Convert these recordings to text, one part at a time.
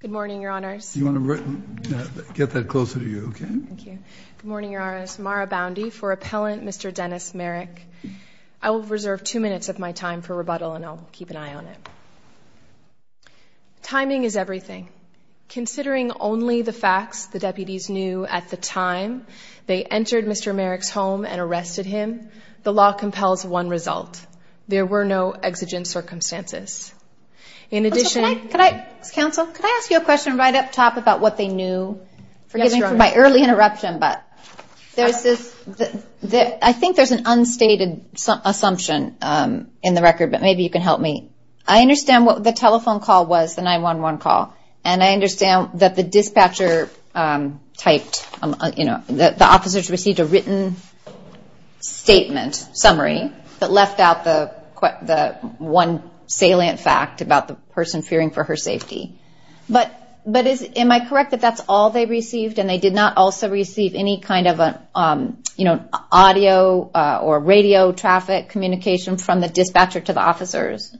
Good morning, your honors. You want to get that closer to you, okay? Thank you. Good morning, your honors. Mara Boundy for appellant Mr. Dennis Maric. I will reserve two minutes of my time for rebuttal and I'll keep an eye on it. Timing is everything. Considering only the facts the deputies knew at the time they entered Mr. Maric's home and arrested him, the law compels one result. There were no exigent circumstances. In addition, Could I ask you a question right up top about what they knew? Forgiving for my early interruption, but there's this, I think there's an unstated assumption in the record, but maybe you can help me. I understand what the telephone call was, the 9-1-1 call, and I understand that the dispatcher typed, you know, that the officers received a written statement, summary, that left out the one salient fact about the person fearing for her safety. But am I correct that that's all they received and they did not also receive any kind of, you know, audio or radio traffic communication from the dispatcher to the officers?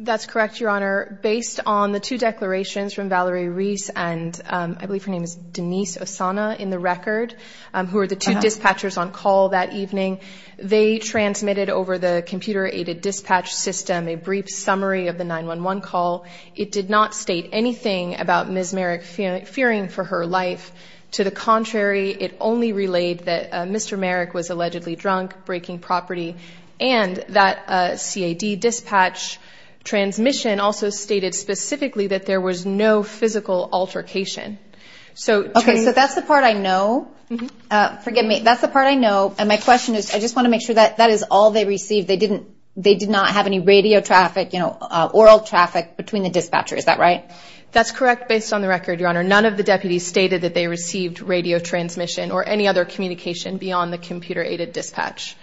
That's correct, your honor. Based on the two declarations from Valerie Reese and I believe her name is Denise Osana in the record, who are the two dispatchers on call that evening, they transmitted over the computer-aided dispatch system a brief summary of the 9-1-1 call. It did not state anything about Ms. Merrick fearing for her life. To the contrary, it only relayed that Mr. Merrick was allegedly drunk, breaking property, and that CAD dispatch transmission also stated specifically that there was no physical altercation. Okay, so that's the part I know, forgive me, that's the part I know, and my question is, I just want to make sure that that is all they received. They didn't, they did not have any radio traffic, you know, oral traffic between the dispatcher, is that right? That's correct, based on the record, your honor. None of the deputies stated that they received radio transmission or any other communication beyond the computer-aided dispatch.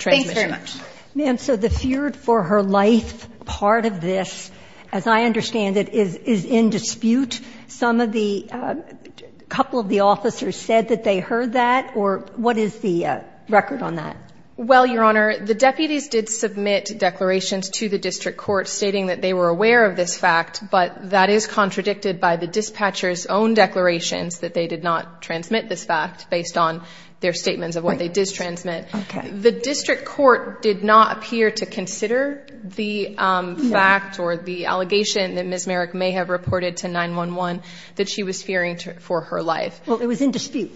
Thanks very much. Ma'am, so the feared for her life part of this, as I understand it, is in dispute. Some of the, a couple of the officers said that they heard that, or what is the deputies did submit declarations to the district court stating that they were aware of this fact, but that is contradicted by the dispatcher's own declarations that they did not transmit this fact based on their statements of what they did transmit. Okay. The district court did not appear to consider the fact or the allegation that Ms. Merrick may have reported to 911 that she was fearing for her life. Well, it was in dispute,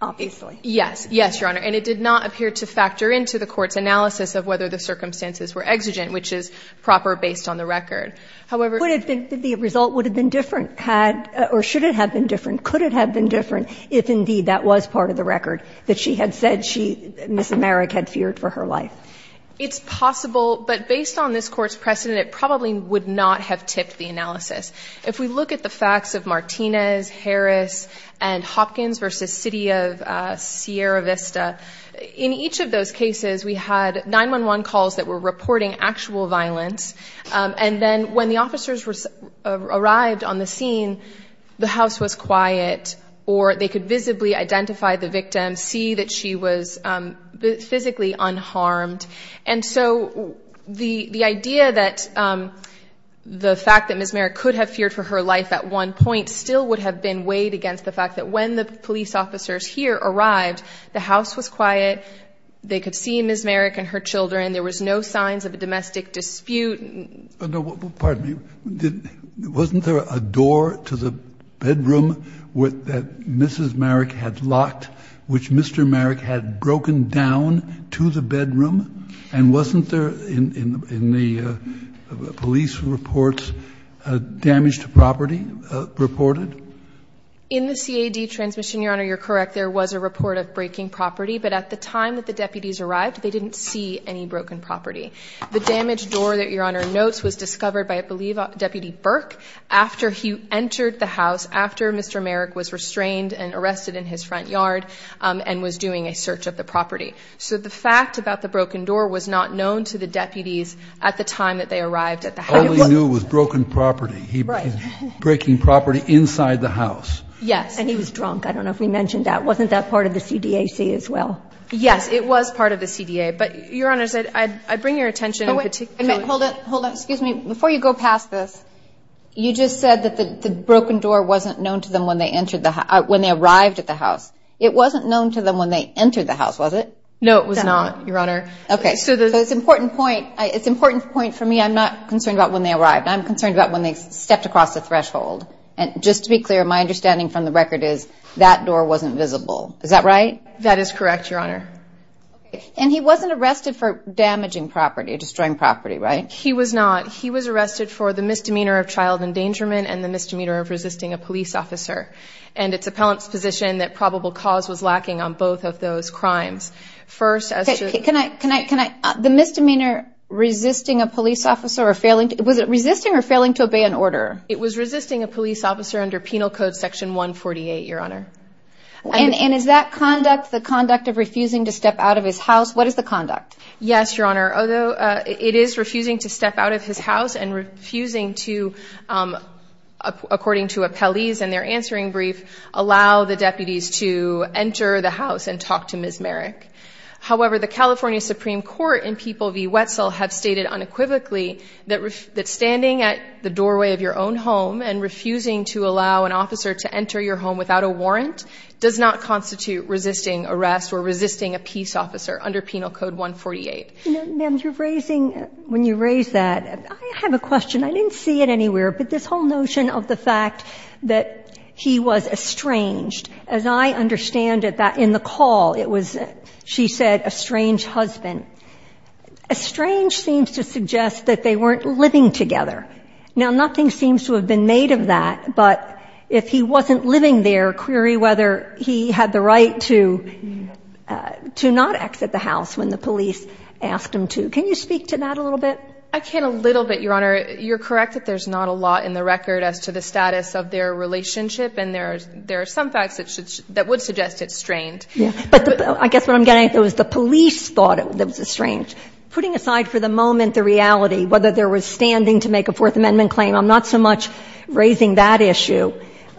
obviously. Yes, yes, your honor. And it did not appear to factor into the court's analysis of whether the circumstances were exigent, which is proper based on the record. However, Would it have been, the result would have been different, had, or should it have been different? Could it have been different if, indeed, that was part of the record that she had said she, Ms. Merrick, had feared for her life? It's possible, but based on this court's precedent, it probably would not have tipped the analysis. If we look at the facts of Martinez, Harris, and Hopkins versus the city of Sierra Vista, in each of those cases, we had 911 calls that were reporting actual violence. And then when the officers arrived on the scene, the house was quiet, or they could visibly identify the victim, see that she was physically unharmed. And so the idea that the fact that Ms. Merrick could have feared for her life at one point still would have been weighed against the fact that when the police officers here arrived, the house was quiet, they could see Ms. Merrick and her children, there was no signs of a domestic dispute. No, pardon me. Wasn't there a door to the bedroom that Mrs. Merrick had locked, which Mr. Merrick had broken down to the bedroom? And wasn't there, in the police reports, damage to property reported? In the CAD transmission, Your Honor, you're correct. There was a report of breaking property, but at the time that the deputies arrived, they didn't see any broken property. The damaged door that Your Honor notes was discovered by, I believe, Deputy Burke, after he entered the house, after Mr. Merrick was restrained and arrested in his front yard, and was doing a search of the property. So the fact about the broken door was not known to the deputies at the time that they arrived at the house. All they knew was broken property. He was breaking property inside the house. Yes, and he was drunk. I don't know if we mentioned that. Wasn't that part of the CDAC as well? Yes, it was part of the CDA. But Your Honor, I bring your attention to... Hold it, hold it. Excuse me. Before you go past this, you just said that the broken door wasn't known to them when they arrived at the house. It wasn't known to them when they entered the house, was it? No, it was not, Your Honor. Okay, so it's an important point. It's an important point for me. I'm not concerned about when they arrived. I'm concerned about when they stepped across the threshold. And just to be clear, my understanding from the record is that door wasn't visible. Is that right? That is correct, Your Honor. And he wasn't arrested for damaging property, destroying property, right? He was not. He was arrested for the misdemeanor of child endangerment and the misdemeanor of resisting a police officer. And it's appellant's position that probable cause was lacking on both of those crimes. First, as to... The misdemeanor resisting a police officer or failing... Was it resisting or failing to obey an order? It was resisting a police officer under Penal Code Section 148, Your Honor. And is that conduct the conduct of refusing to step out of his house? What is the conduct? Yes, Your Honor. Although it is refusing to step out of his house and refusing to, according to appellees in their answering brief, allow the deputies to enter the house and talk to him, the California Supreme Court and people v. Wetzel have stated unequivocally that standing at the doorway of your own home and refusing to allow an officer to enter your home without a warrant does not constitute resisting arrest or resisting a peace officer under Penal Code 148. You know, ma'am, you're raising... When you raise that, I have a question. I didn't see it anywhere, but this whole notion of the fact that he was estranged, as I understand it, that in the call it was, she said, a strange husband, estranged seems to suggest that they weren't living together. Now, nothing seems to have been made of that, but if he wasn't living there, query whether he had the right to not exit the house when the police asked him to. Can you speak to that a little bit? I can a little bit, Your Honor. You're correct that there's not a lot in the record as to the status of their relationship, and there are some facts that would suggest it's strained. But I guess what I'm getting at is the police thought it was estranged. Putting aside for the moment the reality, whether there was standing to make a Fourth Amendment claim, I'm not so much raising that issue,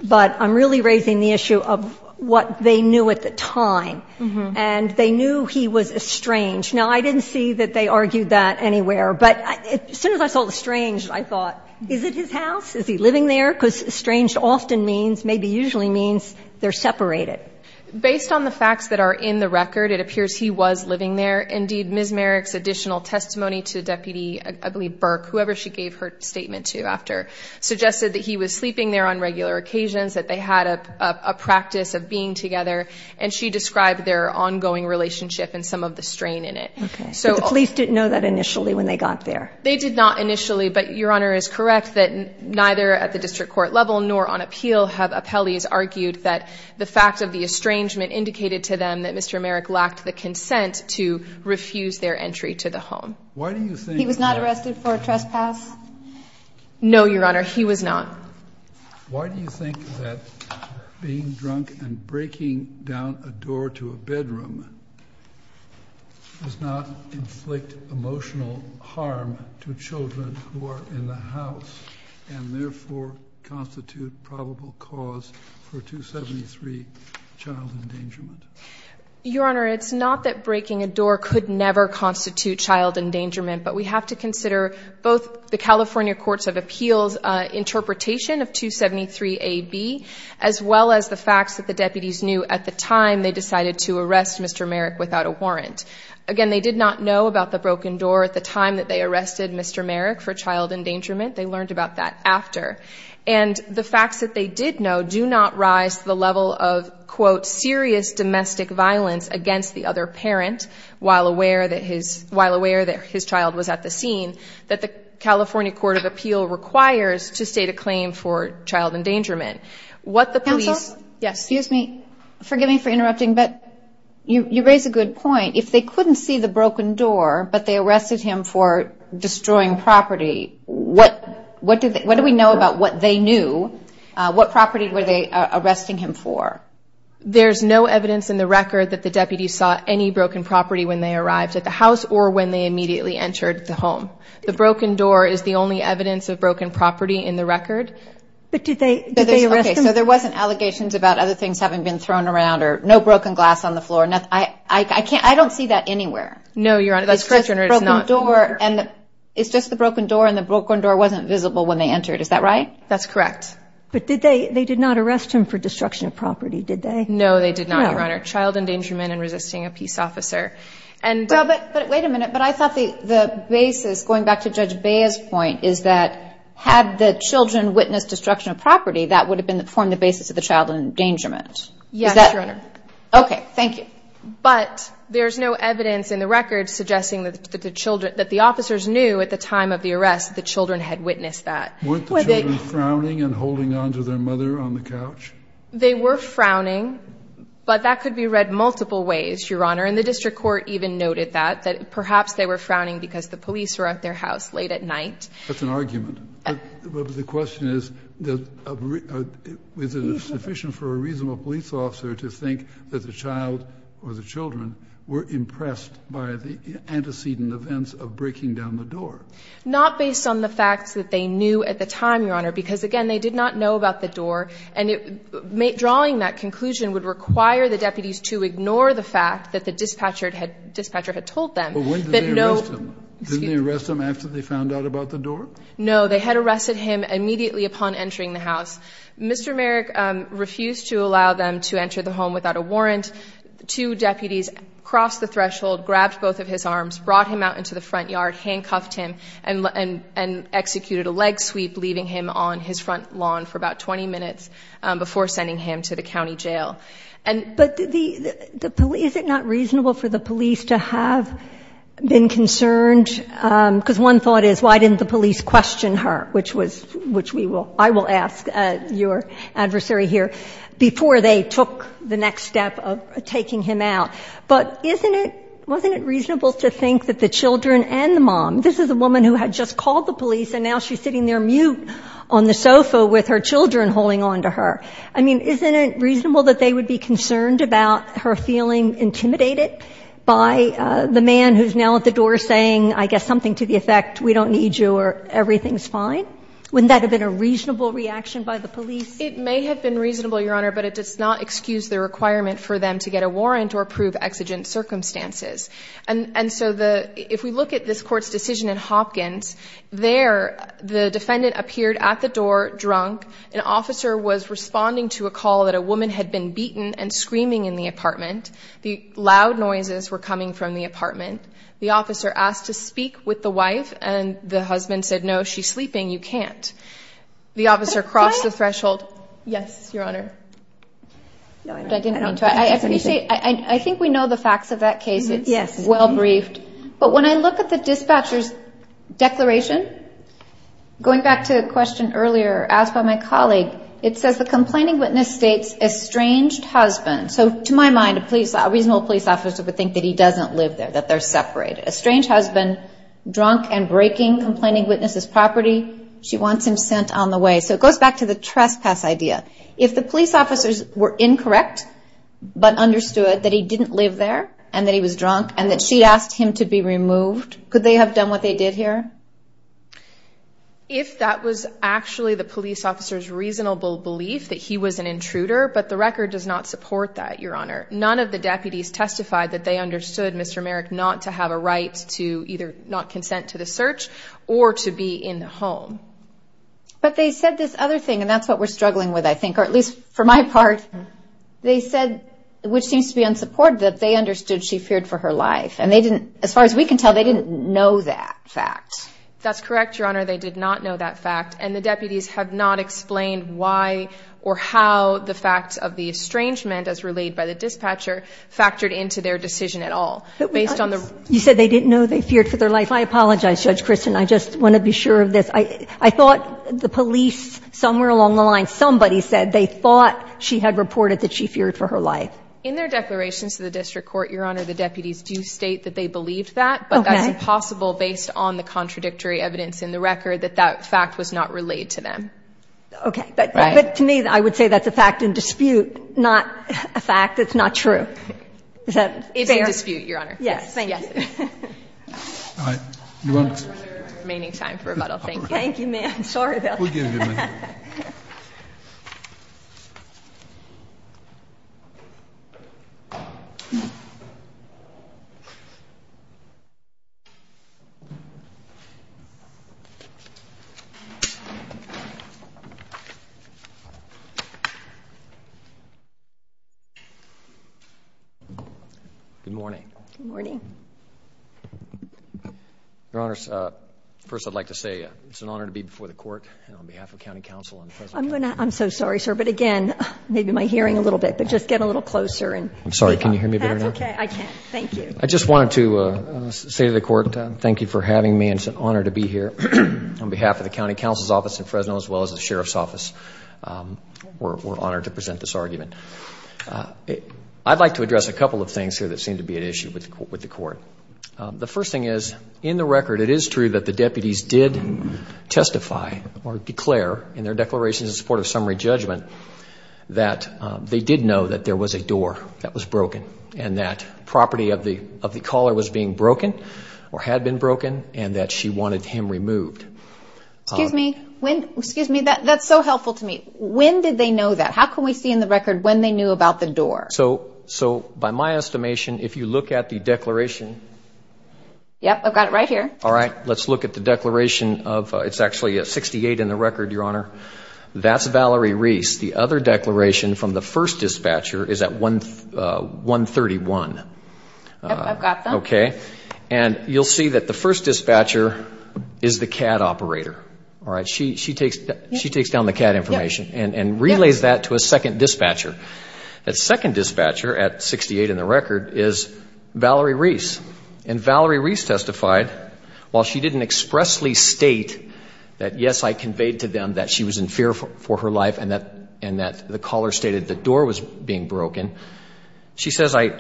but I'm really raising the issue of what they knew at the time. And they knew he was estranged. Now, I didn't see that they argued that anywhere. But as soon as I saw estranged, I thought, is it his house? Is he living there? Because estranged often means, maybe usually means, they're separated. Based on the facts that are in the record, it appears he was living there. Indeed, Ms. Merrick's additional testimony to Deputy, I believe, Burke, whoever she gave her statement to after, suggested that he was sleeping there on regular occasions, that they had a practice of being together, and she described their ongoing relationship and some of the strain in it. Okay. So the police didn't know that initially when they got there? They did not initially, but Your Honor is correct that neither at the district court level nor on appeal have appellees argued that the fact of the estrangement indicated to them that Mr. Merrick lacked the consent to refuse their entry to the home. He was not arrested for a trespass? No, Your Honor, he was not. Why do you think that being drunk and breaking down a door to a bedroom does not inflict emotional harm to children who are in the house and therefore constitute probable cause for 273 child endangerment? Your Honor, it's not that breaking a door could never constitute child endangerment, but we have to consider both the California Courts of Appeals interpretation of 273 AB as well as the facts that the deputies knew at the time they decided to arrest Mr. Merrick without a warrant. Again, they did not know about the broken door at the time that they arrested Mr. Merrick for child endangerment. They learned about that after. And the facts that they did know do not rise to the level of, quote, serious domestic was at the scene that the California Court of Appeal requires to state a claim for child endangerment. What the police. Yes, excuse me, forgive me for interrupting, but you raise a good point. If they couldn't see the broken door, but they arrested him for destroying property. What do we know about what they knew? What property were they arresting him for? There's no evidence in the record that the deputies saw any broken property when they entered the home. The broken door is the only evidence of broken property in the record. But did they? So there wasn't allegations about other things having been thrown around or no broken glass on the floor. No, I can't. I don't see that anywhere. No, Your Honor. That's correct, Your Honor. It's not door. And it's just the broken door and the broken door wasn't visible when they entered. Is that right? That's correct. But did they? They did not arrest him for destruction of property, did they? No, they did not, Your Honor. Child endangerment and resisting a peace officer. And wait a minute. But I thought the basis, going back to Judge Bea's point, is that had the children witnessed destruction of property, that would have formed the basis of the child endangerment. Yes, Your Honor. Okay, thank you. But there's no evidence in the record suggesting that the officers knew at the time of the arrest, the children had witnessed that. Weren't the children frowning and holding on to their mother on the couch? They were frowning, but that could be read multiple ways, Your Honor. And the district court even noted that, that perhaps they were frowning because the police were at their house late at night. That's an argument. But the question is, was it sufficient for a reasonable police officer to think that the child or the children were impressed by the antecedent events of breaking down the door? Not based on the facts that they knew at the time, Your Honor, because again, they did not know about the door. And drawing that conclusion would require the deputies to ignore the fact that the dispatcher had told them. But when did they arrest him? Didn't they arrest him after they found out about the door? No, they had arrested him immediately upon entering the house. Mr. Merrick refused to allow them to enter the home without a warrant. Two deputies crossed the threshold, grabbed both of his arms, brought him out into the front yard, handcuffed him and executed a leg sweep, leaving him on his front lawn for about 20 minutes before sending him to the county jail. But the police, is it not reasonable for the police to have been concerned? Because one thought is, why didn't the police question her? Which was, which we will, I will ask your adversary here before they took the next step of taking him out. But isn't it, wasn't it reasonable to think that the children and the mom, this is a woman who had just called the police and now she's sitting there mute on the sofa with her children holding on to her. I mean, isn't it reasonable that they would be concerned about her feeling intimidated by the man who's now at the door saying, I guess, something to the effect, we don't need you or everything's fine? Wouldn't that have been a reasonable reaction by the police? It may have been reasonable, Your Honor, but it does not excuse the requirement for them to get a warrant or prove exigent circumstances. And so the, if we look at this court's decision in Hopkins, there, the defendant appeared at the door drunk. An officer was responding to a call that a woman had been beaten and screaming in the apartment. The loud noises were coming from the apartment. The officer asked to speak with the wife and the husband said, no, she's sleeping. You can't. The officer crossed the threshold. Yes, Your Honor. No, I didn't mean to. I appreciate, I think we know the facts of that case. It's well briefed. But when I look at the dispatcher's declaration, going back to the question earlier asked by my colleague, it says the complaining witness states estranged husband. So to my mind, a police, a reasonable police officer would think that he doesn't live there, that they're separated. A strange husband, drunk and breaking, complaining witness's property. She wants him sent on the way. So it goes back to the trespass idea. If the police officers were incorrect, but understood that he didn't live there and that he was drunk and that she'd asked him to be removed, could they have done what they did here? If that was actually the police officer's reasonable belief that he was an intruder. But the record does not support that, Your Honor. None of the deputies testified that they understood Mr. Merrick not to have a right to either not consent to the search or to be in the home. But they said this other thing, and that's what we're struggling with, I think, or at least for my part, they said, which seems to be unsupported, that they understood she feared for her life. And they didn't, as far as we can tell, they didn't know that fact. That's correct, Your Honor. They did not know that fact. And the deputies have not explained why or how the facts of the estrangement as relayed by the dispatcher factored into their decision at all based on the. You said they didn't know they feared for their life. I apologize, Judge Kristen. I just want to be sure of this. I, I thought the police somewhere along the line, somebody said they thought she had reported that she feared for her life. In their declarations to the district court, Your Honor, the deputies do state that they believed that, but that's impossible based on the contradictory evidence in the record that that fact was not relayed to them. Okay. But to me, I would say that's a fact in dispute, not a fact that's not true. Is that fair? It's in dispute, Your Honor. Yes. Thank you. Remaining time for rebuttal. Thank you. Thank you, ma'am. Sorry. Good morning. Good morning. Your Honor, uh, first I'd like to say, uh, it's an honor to be before the court and on behalf of county council and the president. I'm going to, I'm so sorry, sir. But again, maybe my hearing a little bit, but just get a little closer and I'm sorry. Can you hear me better now? State of the court, thank you for having me. And it's an honor to be here on behalf of the county council's office in Fresno, as well as the sheriff's office. Um, we're, we're honored to present this argument. Uh, I'd like to address a couple of things here that seem to be an issue with the court. Um, the first thing is in the record, it is true that the deputies did testify or declare in their declarations in support of summary judgment that, um, they did know that there was a door that was broken and that property of the, of the caller was being broken or had been broken and that she wanted him removed. Excuse me, when, excuse me, that that's so helpful to me. When did they know that? How can we see in the record when they knew about the door? So, so by my estimation, if you look at the declaration. Yep. I've got it right here. All right. Let's look at the declaration of, uh, it's actually a 68 in the record. Your Honor, that's Valerie Reese. The other declaration from the first dispatcher is at one, uh, one 31. Uh, okay. And you'll see that the first dispatcher is the CAD operator. All right. She, she takes, she takes down the CAD information and, and relays that to a second dispatcher. That second dispatcher at 68 in the record is Valerie Reese. And Valerie Reese testified while she didn't expressly state that, yes, I and that the caller stated the door was being broken. She says, I,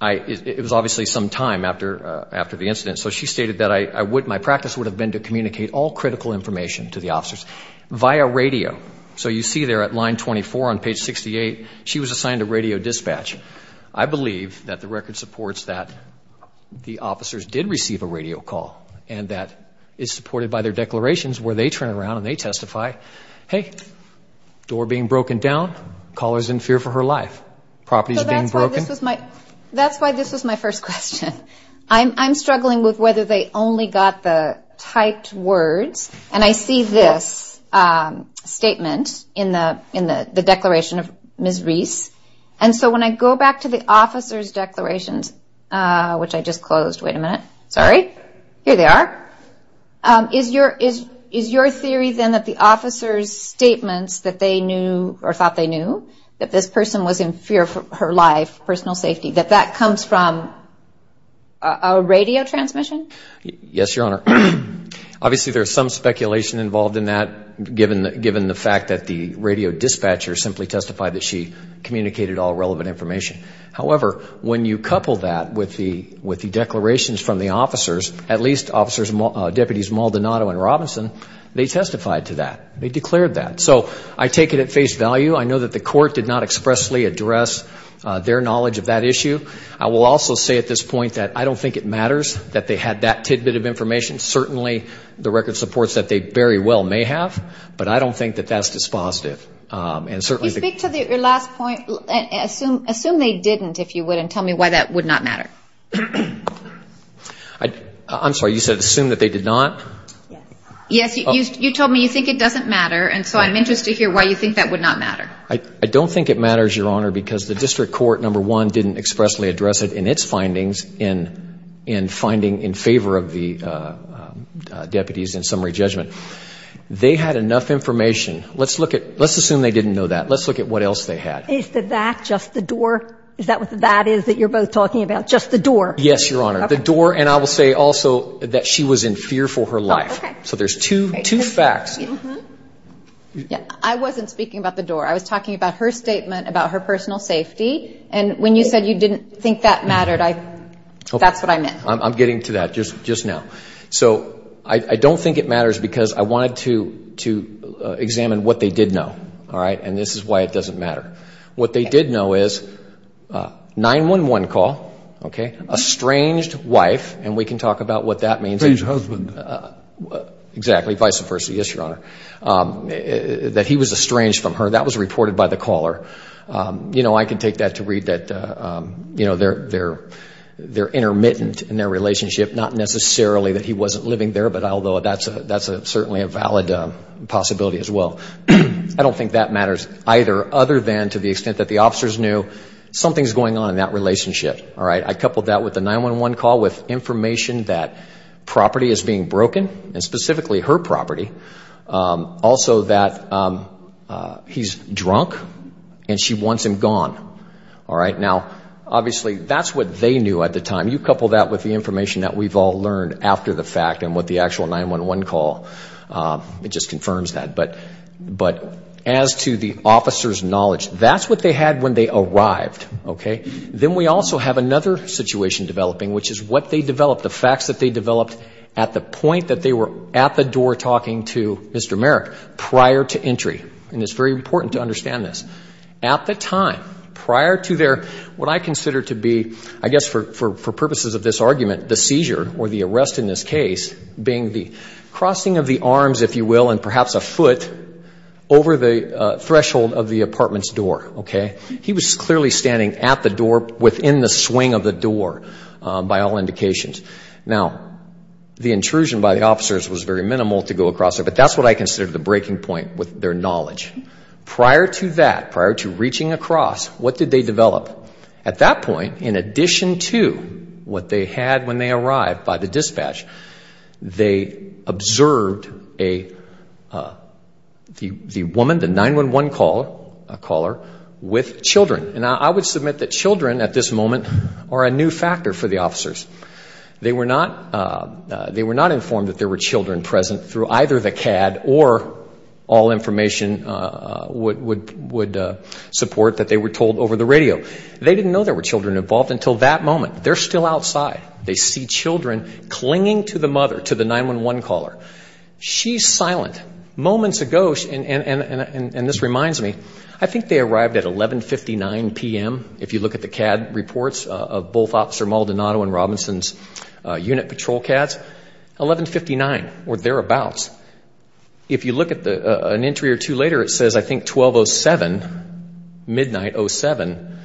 I, it was obviously some time after, uh, after the incident. So she stated that I would, my practice would have been to communicate all critical information to the officers via radio. So you see there at line 24 on page 68, she was assigned a radio dispatch. I believe that the record supports that the officers did receive a radio call and that is supported by their declarations where they turn around and they testify, Hey, door being broken down, callers in fear for her life. Property is being broken. That's why this was my first question. I'm, I'm struggling with whether they only got the typed words and I see this, um, statement in the, in the, the declaration of Ms. Reese. And so when I go back to the officer's declarations, uh, which I just closed, wait a minute, sorry. Here they are. Um, is your, is, is your theory then that the officer's statements that they knew or thought they knew that this person was in fear for her life, personal safety, that that comes from a radio transmission? Yes, Your Honor. Obviously there's some speculation involved in that given the, given the fact that the radio dispatcher simply testified that she communicated all relevant information. However, when you couple that with the, with the declarations from the officers, at least officers, deputies, Maldonado and Robinson, they testified to that. They declared that. So I take it at face value. I know that the court did not expressly address their knowledge of that issue. I will also say at this point that I don't think it matters that they had that tidbit of information. Certainly the record supports that they very well may have, but I don't think that that's dispositive. Um, and certainly... You speak to the last point, assume, assume they didn't, if you would, and tell me why that would not matter. I, I'm sorry, you said assume that they did not? Yes. You told me you think it doesn't matter. And so I'm interested to hear why you think that would not matter. I don't think it matters, Your Honor, because the district court, number one, didn't expressly address it in its findings in, in finding in favor of the, uh, uh, deputies in summary judgment. They had enough information. Let's look at, let's assume they didn't know that. Let's look at what else they had. Is the that just the door? Is that what the that is that you're both talking about? Just the door? Yes, Your Honor, the door. And I will say also that she was in fear for her life. So there's two, two facts. Yeah, I wasn't speaking about the door. I was talking about her statement about her personal safety. And when you said you didn't think that mattered, I, that's what I meant. I'm getting to that just, just now. So I don't think it matters because I wanted to, to examine what they did know. All right. And this is why it doesn't matter. What they did know is a 911 call, okay. A estranged wife. And we can talk about what that means. Estranged husband. Exactly. Vice versa. Yes, Your Honor. Um, that he was estranged from her. That was reported by the caller. Um, you know, I can take that to read that, uh, um, you know, they're, they're, they're intermittent in their relationship. Not necessarily that he wasn't living there, but although that's a, that's a, certainly a valid, um, possibility as well. I don't think that matters either, other than to the extent that the officers knew something's going on in that relationship. All right. I coupled that with the 911 call with information that property is being broken and specifically her property. Um, also that, um, uh, he's drunk and she wants him gone. All right. Now, obviously that's what they knew at the time. You couple that with the information that we've all learned after the fact and what the actual 911 call, um, it just confirms that. But, but as to the officer's knowledge, that's what they had when they arrived. Okay. Then we also have another situation developing, which is what they developed, the facts that they developed at the point that they were at the door talking to Mr. Merrick prior to entry. And it's very important to understand this. At the time, prior to their, what I consider to be, I guess for, for, for purposes of this argument, the seizure or the arrest in this case being the arms, if you will, and perhaps a foot over the threshold of the apartment's door, okay, he was clearly standing at the door within the swing of the door, um, by all indications. Now the intrusion by the officers was very minimal to go across it, but that's what I consider the breaking point with their knowledge prior to that, prior to reaching across what did they develop at that point, in addition to what they had when they arrived by the dispatch, they observed a, uh, the, the woman, the 911 caller, a caller with children. And I would submit that children at this moment are a new factor for the officers. They were not, uh, uh, they were not informed that there were children present through either the CAD or all information, uh, uh, would, would, uh, support that they were told over the radio. They didn't know there were children involved until that moment. They're still outside. They see children clinging to the mother, to the 911 caller. She's silent. Moments ago, and, and, and, and, and this reminds me, I think they arrived at 1159 PM, if you look at the CAD reports of both officer Maldonado and Robinson's, uh, unit patrol CADs, 1159 or thereabouts. If you look at the, uh, an entry or two later, it says, I think 1207, midnight 07,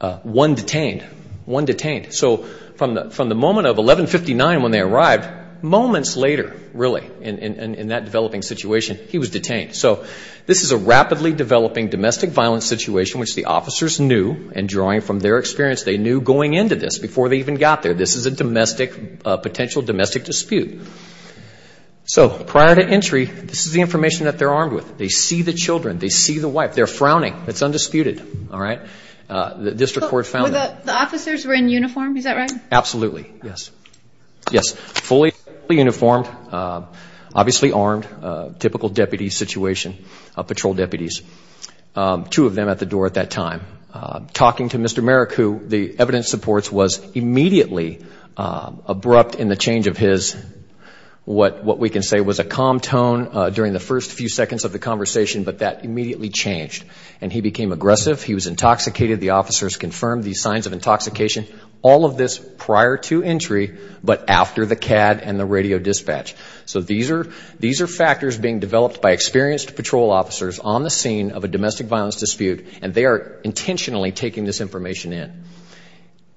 uh, one detained, one detained. So from the, from the moment of 1159, when they arrived moments later, really in, in, in, in that developing situation, he was detained. So this is a rapidly developing domestic violence situation, which the officers knew and drawing from their experience, they knew going into this before they even got there, this is a domestic, uh, potential domestic dispute. So prior to entry, this is the information that they're armed with. They see the children. They see the wife. They're frowning. It's undisputed. All right. Uh, the district court found. The officers were in uniform. Is that right? Absolutely. Yes. Yes. Fully uniformed, uh, obviously armed, uh, typical deputy situation, uh, patrol deputies, um, two of them at the door at that time, uh, talking to Mr. Merrick, who the evidence supports was immediately, uh, abrupt in the change of his, what, what we can say was a calm tone, uh, during the first few seconds of the conversation, but that immediately changed and he became aggressive. He was intoxicated. The officers confirmed these signs of intoxication, all of this prior to entry, but after the CAD and the radio dispatch. So these are, these are factors being developed by experienced patrol officers on the scene of a domestic violence dispute, and they are intentionally taking this information in.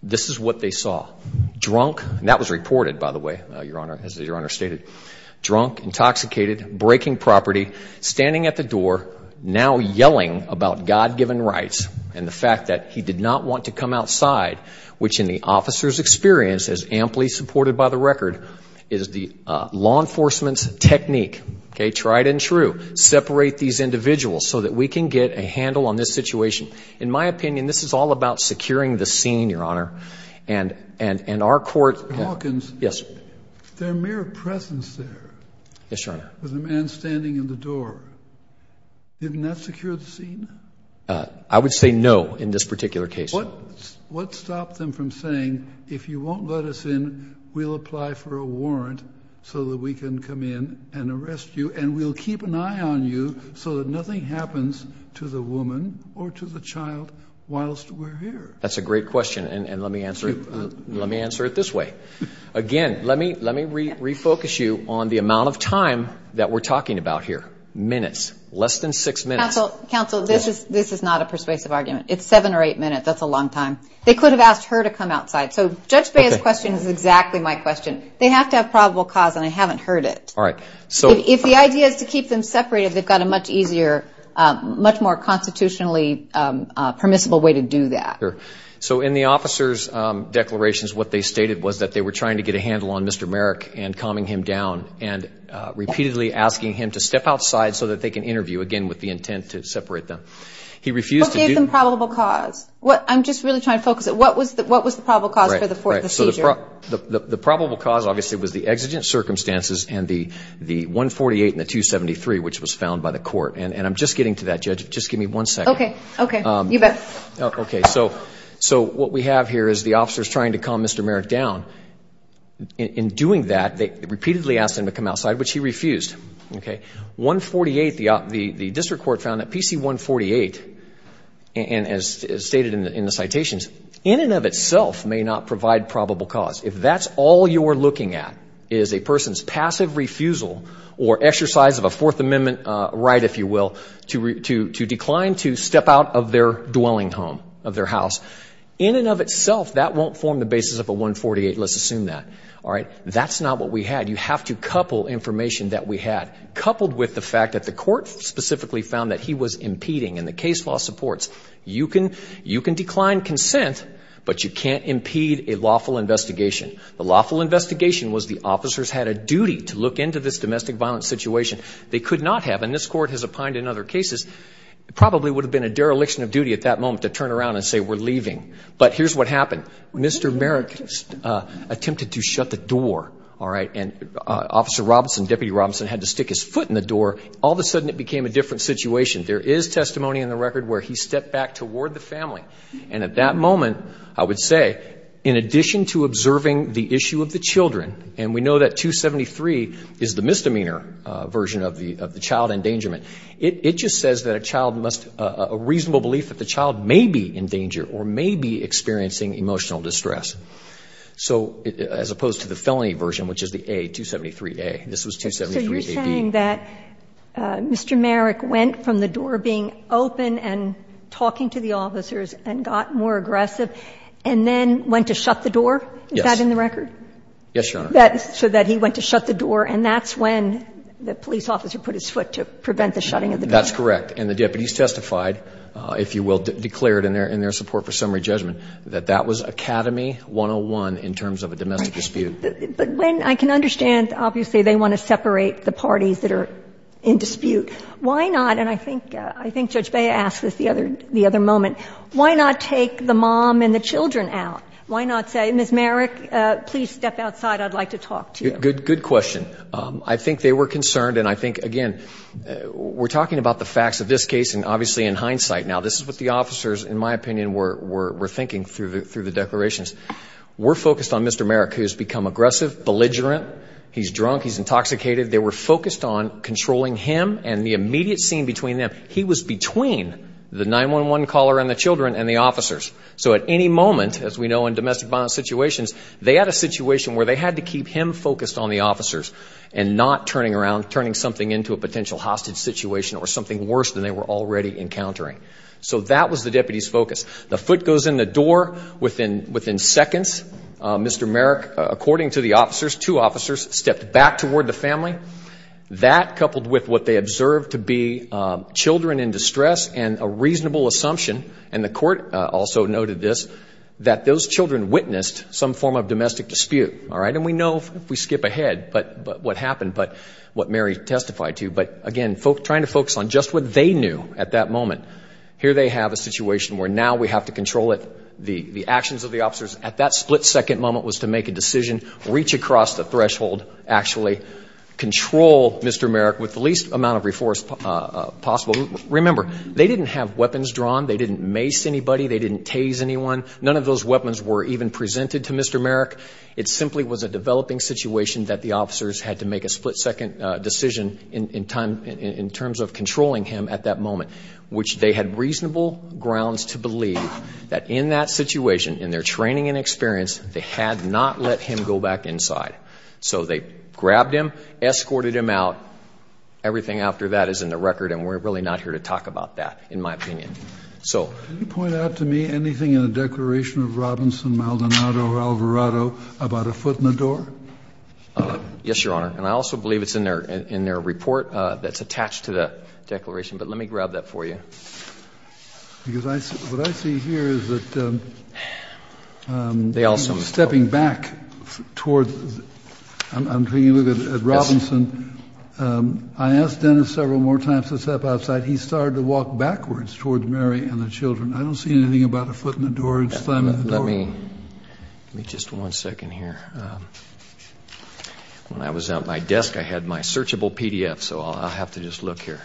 This is what they saw. Drunk, and that was reported by the way, uh, your honor, as your honor stated, drunk, intoxicated, breaking property, standing at the door, now that he did not want to come outside, which in the officer's experience is amply supported by the record is the, uh, law enforcement's technique. Okay. Tried and true. Separate these individuals so that we can get a handle on this situation. In my opinion, this is all about securing the scene, your honor. And, and, and our court... Mr. Hawkins. Yes, sir. There are mere presence there. Yes, your honor. With a man standing in the door. Didn't that secure the scene? Uh, I would say no in this particular case. What, what stopped them from saying, if you won't let us in, we'll apply for a warrant so that we can come in and arrest you and we'll keep an eye on you so that nothing happens to the woman or to the child whilst we're here. That's a great question. And, and let me answer it. Let me answer it this way. Again, let me, let me re refocus you on the amount of time that we're talking about here, minutes, less than six minutes. Counsel, this is, this is not a persuasive argument. It's seven or eight minutes. That's a long time. They could have asked her to come outside. So Judge Bea's question is exactly my question. They have to have probable cause and I haven't heard it. All right. So if the idea is to keep them separated, they've got a much easier, um, much more constitutionally, um, uh, permissible way to do that. So in the officer's, um, declarations, what they stated was that they were trying to get a handle on Mr. Merrick and calming him down and, uh, repeatedly asking him to step outside so that they can interview again with the intent to separate them. He refused to do the probable cause. What I'm just really trying to focus it. What was the, what was the probable cause for the fourth? Right. So the, the, the probable cause obviously was the exigent circumstances and the, the one 48 and the two 73, which was found by the court. And I'm just getting to that judge. Just give me one second. Okay. Okay. Um, okay. So, so what we have here is the officer's trying to calm Mr. Merrick down in doing that. They repeatedly asked him to come outside, which he refused. Okay. One 48, the, uh, the, the district court found that PC one 48 and as stated in the, in the citations in and of itself may not provide probable cause. If that's all you're looking at is a person's passive refusal or exercise of a fourth amendment, uh, right. If you will, to re to, to decline, to step out of their dwelling home of their house in and of itself, that won't form the basis of a one 48, let's assume that. All right. That's not what we had. You have to couple information that we had coupled with the fact that the court specifically found that he was impeding and the case law supports you can, you can decline consent, but you can't impede a lawful investigation. The lawful investigation was the officers had a duty to look into this domestic violence situation. They could not have, and this court has opined in other cases, it probably would have been a dereliction of duty at that moment to turn around and say, we're leaving, but here's what happened. Mr. Merrick, uh, attempted to shut the door. All right. And, uh, officer Robinson, deputy Robinson had to stick his foot in the door. All of a sudden it became a different situation. There is testimony in the record where he stepped back toward the family. And at that moment, I would say, in addition to observing the issue of the children, and we know that two 73 is the misdemeanor version of the, of the child endangerment, it just says that a child must, uh, a reasonable belief that the child is in a state of emotional distress. So as opposed to the felony version, which is the a two 73, a, this was two 73. So you're saying that, uh, Mr. Merrick went from the door being open and talking to the officers and got more aggressive and then went to shut the door. Is that in the record? Yes, Your Honor. That, so that he went to shut the door and that's when the police officer put his foot to prevent the shutting of the door. That's correct. And the deputies testified, uh, if you will declare it in their, in their support for summary judgment, that that was Academy 101 in terms of a domestic dispute. But when I can understand, obviously they want to separate the parties that are in dispute. Why not? And I think, uh, I think Judge Bea asked this the other, the other moment, why not take the mom and the children out? Why not say, Ms. Merrick, uh, please step outside. I'd like to talk to you. Good, good question. Um, I think they were concerned and I think, again, we're talking about the facts of this case and obviously in hindsight, now this is what the officers, in my opinion, were, were, were thinking through the, through the declarations. We're focused on Mr. Merrick, who's become aggressive, belligerent, he's drunk, he's intoxicated. They were focused on controlling him and the immediate scene between them. He was between the 911 caller and the children and the officers. So at any moment, as we know, in domestic violence situations, they had a situation hostage situation or something worse than they were already encountering. So that was the deputy's focus. The foot goes in the door within, within seconds. Uh, Mr. Merrick, according to the officers, two officers stepped back toward the family. That coupled with what they observed to be, um, children in distress and a reasonable assumption, and the court also noted this, that those children witnessed some form of domestic dispute. All right. And we know if we skip ahead, but, but what happened, but what Mary testified to, but again, folks trying to focus on just what they knew at that moment. Here, they have a situation where now we have to control it. The, the actions of the officers at that split second moment was to make a decision, reach across the threshold, actually control Mr. Merrick with the least amount of reforce, uh, possible. Remember, they didn't have weapons drawn. They didn't mace anybody. They didn't tase anyone. None of those weapons were even presented to Mr. Merrick. It simply was a developing situation that the officers had to make a split second, uh, decision in, in time, in, in terms of controlling him at that moment, which they had reasonable grounds to believe that in that situation, in their training and experience, they had not let him go back inside. So they grabbed him, escorted him out. Everything after that is in the record. And we're really not here to talk about that, in my opinion. So. Can you point out to me anything in the declaration of Robinson, Maldonado, Alvarado about a foot in the door? Yes, Your Honor. And I also believe it's in their, in their report, uh, that's attached to the declaration, but let me grab that for you. Because I see what I see here is that, um, um, they also stepping back towards, I'm, I'm taking a look at Robinson. Um, I asked Dennis several more times to step outside. He started to walk backwards towards Mary and the children. I don't see anything about a foot in the door. Let me, let me just one second here. Um, when I was at my desk, I had my searchable PDF, so I'll, I'll have to just look here.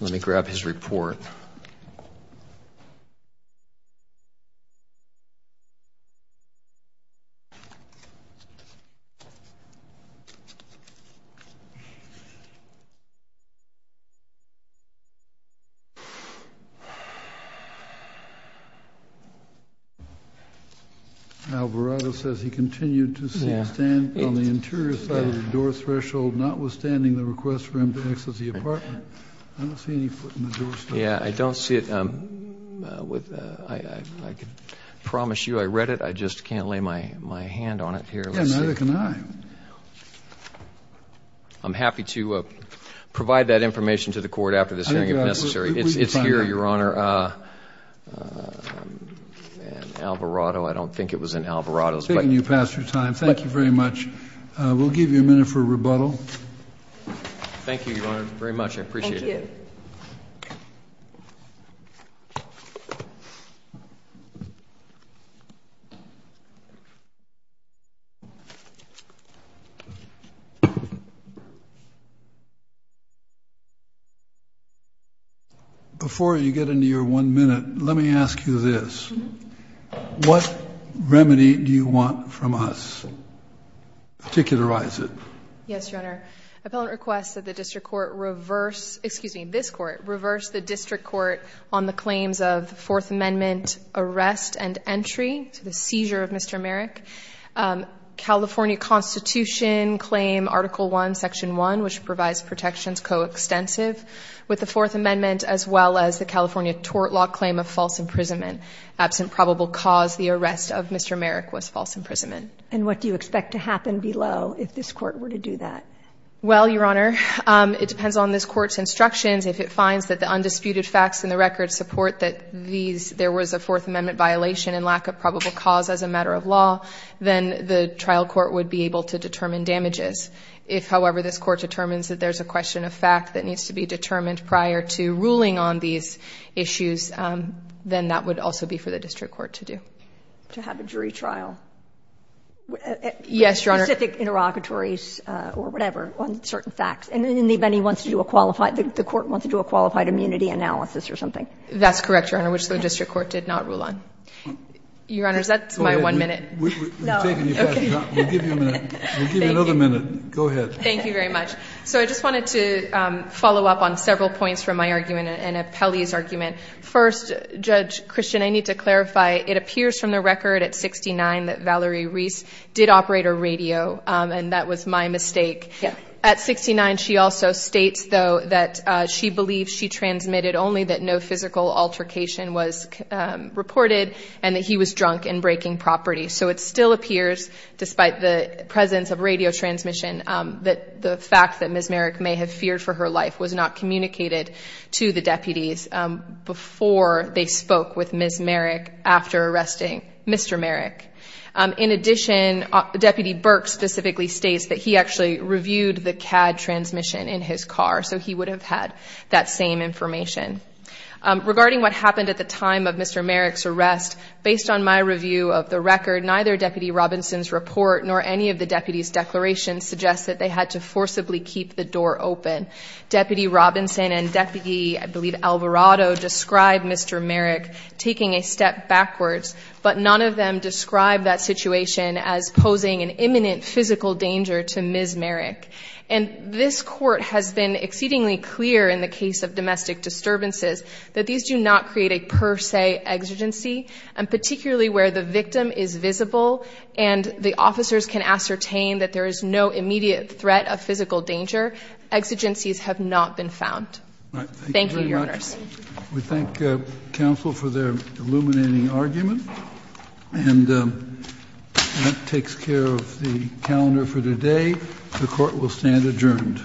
Let me grab his report. Alvarado says he continued to stand on the interior side of the door threshold, notwithstanding the request for him to exit the apartment. I don't see any foot in the door. Yeah, I don't see it. Um, uh, with, uh, I, I, I could promise you I read it. I just can't lay my hand on it here. Let's see. I'm happy to, uh, provide that information to the court after this hearing, if necessary, it's, it's here, Your Honor. Uh, uh, man, Alvarado, I don't think it was in Alvarado's. I'm taking you past your time. Thank you very much. Uh, we'll give you a minute for rebuttal. Thank you, Your Honor, very much. I appreciate it. Before you get into your one minute, let me ask you this, what remedy do you want from us, particularize it? Yes, Your Honor. Appellant requests that the district court reverse, excuse me, this court reverse the district court on the claims of the fourth amendment arrest and entry to the seizure of Mr. Merrick, um, California constitution claim, article one, section one, which provides protections coextensive with the fourth amendment, as well as the California tort law claim of false imprisonment, absent probable cause the arrest of Mr. Merrick was false imprisonment. And what do you expect to happen below if this court were to do that? Well, Your Honor, um, it depends on this court's instructions. If it finds that the undisputed facts in the record support that these, there was a fourth amendment violation and lack of probable cause as a matter of law, then the trial court would be able to determine damages. If, however, this court determines that there's a question of fact that needs to be determined prior to ruling on these issues, um, then that would also be for the district court to do. To have a jury trial. Yes, Your Honor. Specific interrogatories, uh, or whatever on certain facts. And then anybody wants to do a qualified, the court wants to do a qualified immunity analysis or something. That's correct. Your Honor, which the district court did not rule on. Your Honor, is that my one minute? No. Okay. We'll give you a minute. We'll give you another minute. Go ahead. Thank you very much. So I just wanted to, um, follow up on several points from my argument and a Pelley's argument. First judge Christian, I need to clarify. It appears from the record at 69 that Valerie Reese did operate a radio, um, and that was my mistake. At 69, she also states though, that, uh, she believes she transmitted only that no physical altercation was, um, reported and that he was drunk and breaking property. So it still appears, despite the presence of radio transmission, um, that the fact that Ms. Merrick may have feared for her life was not communicated to the deputies, um, before they spoke with Ms. Merrick after arresting Mr. Merrick. Um, in addition, uh, Deputy Burke specifically states that he actually reviewed the CAD transmission in his car. So he would have had that same information. Um, regarding what happened at the time of Mr. Merrick's arrest, based on my review of the record, neither Deputy Robinson's report nor any of the deputy's declarations suggests that they had to forcibly keep the door open. Deputy Robinson and Deputy, I believe Alvarado described Mr. Merrick taking a step backwards, but none of them described that situation as posing an imminent physical danger to Ms. Merrick. And this court has been exceedingly clear in the case of domestic disturbances that these do not create a per se exigency and particularly where the victim is visible and the officers can ascertain that there is no immediate threat of physical danger. Exigencies have not been found. Thank you, Your Honors. We thank, uh, counsel for their illuminating argument and, um, that takes care of the calendar for today. The court will stand adjourned.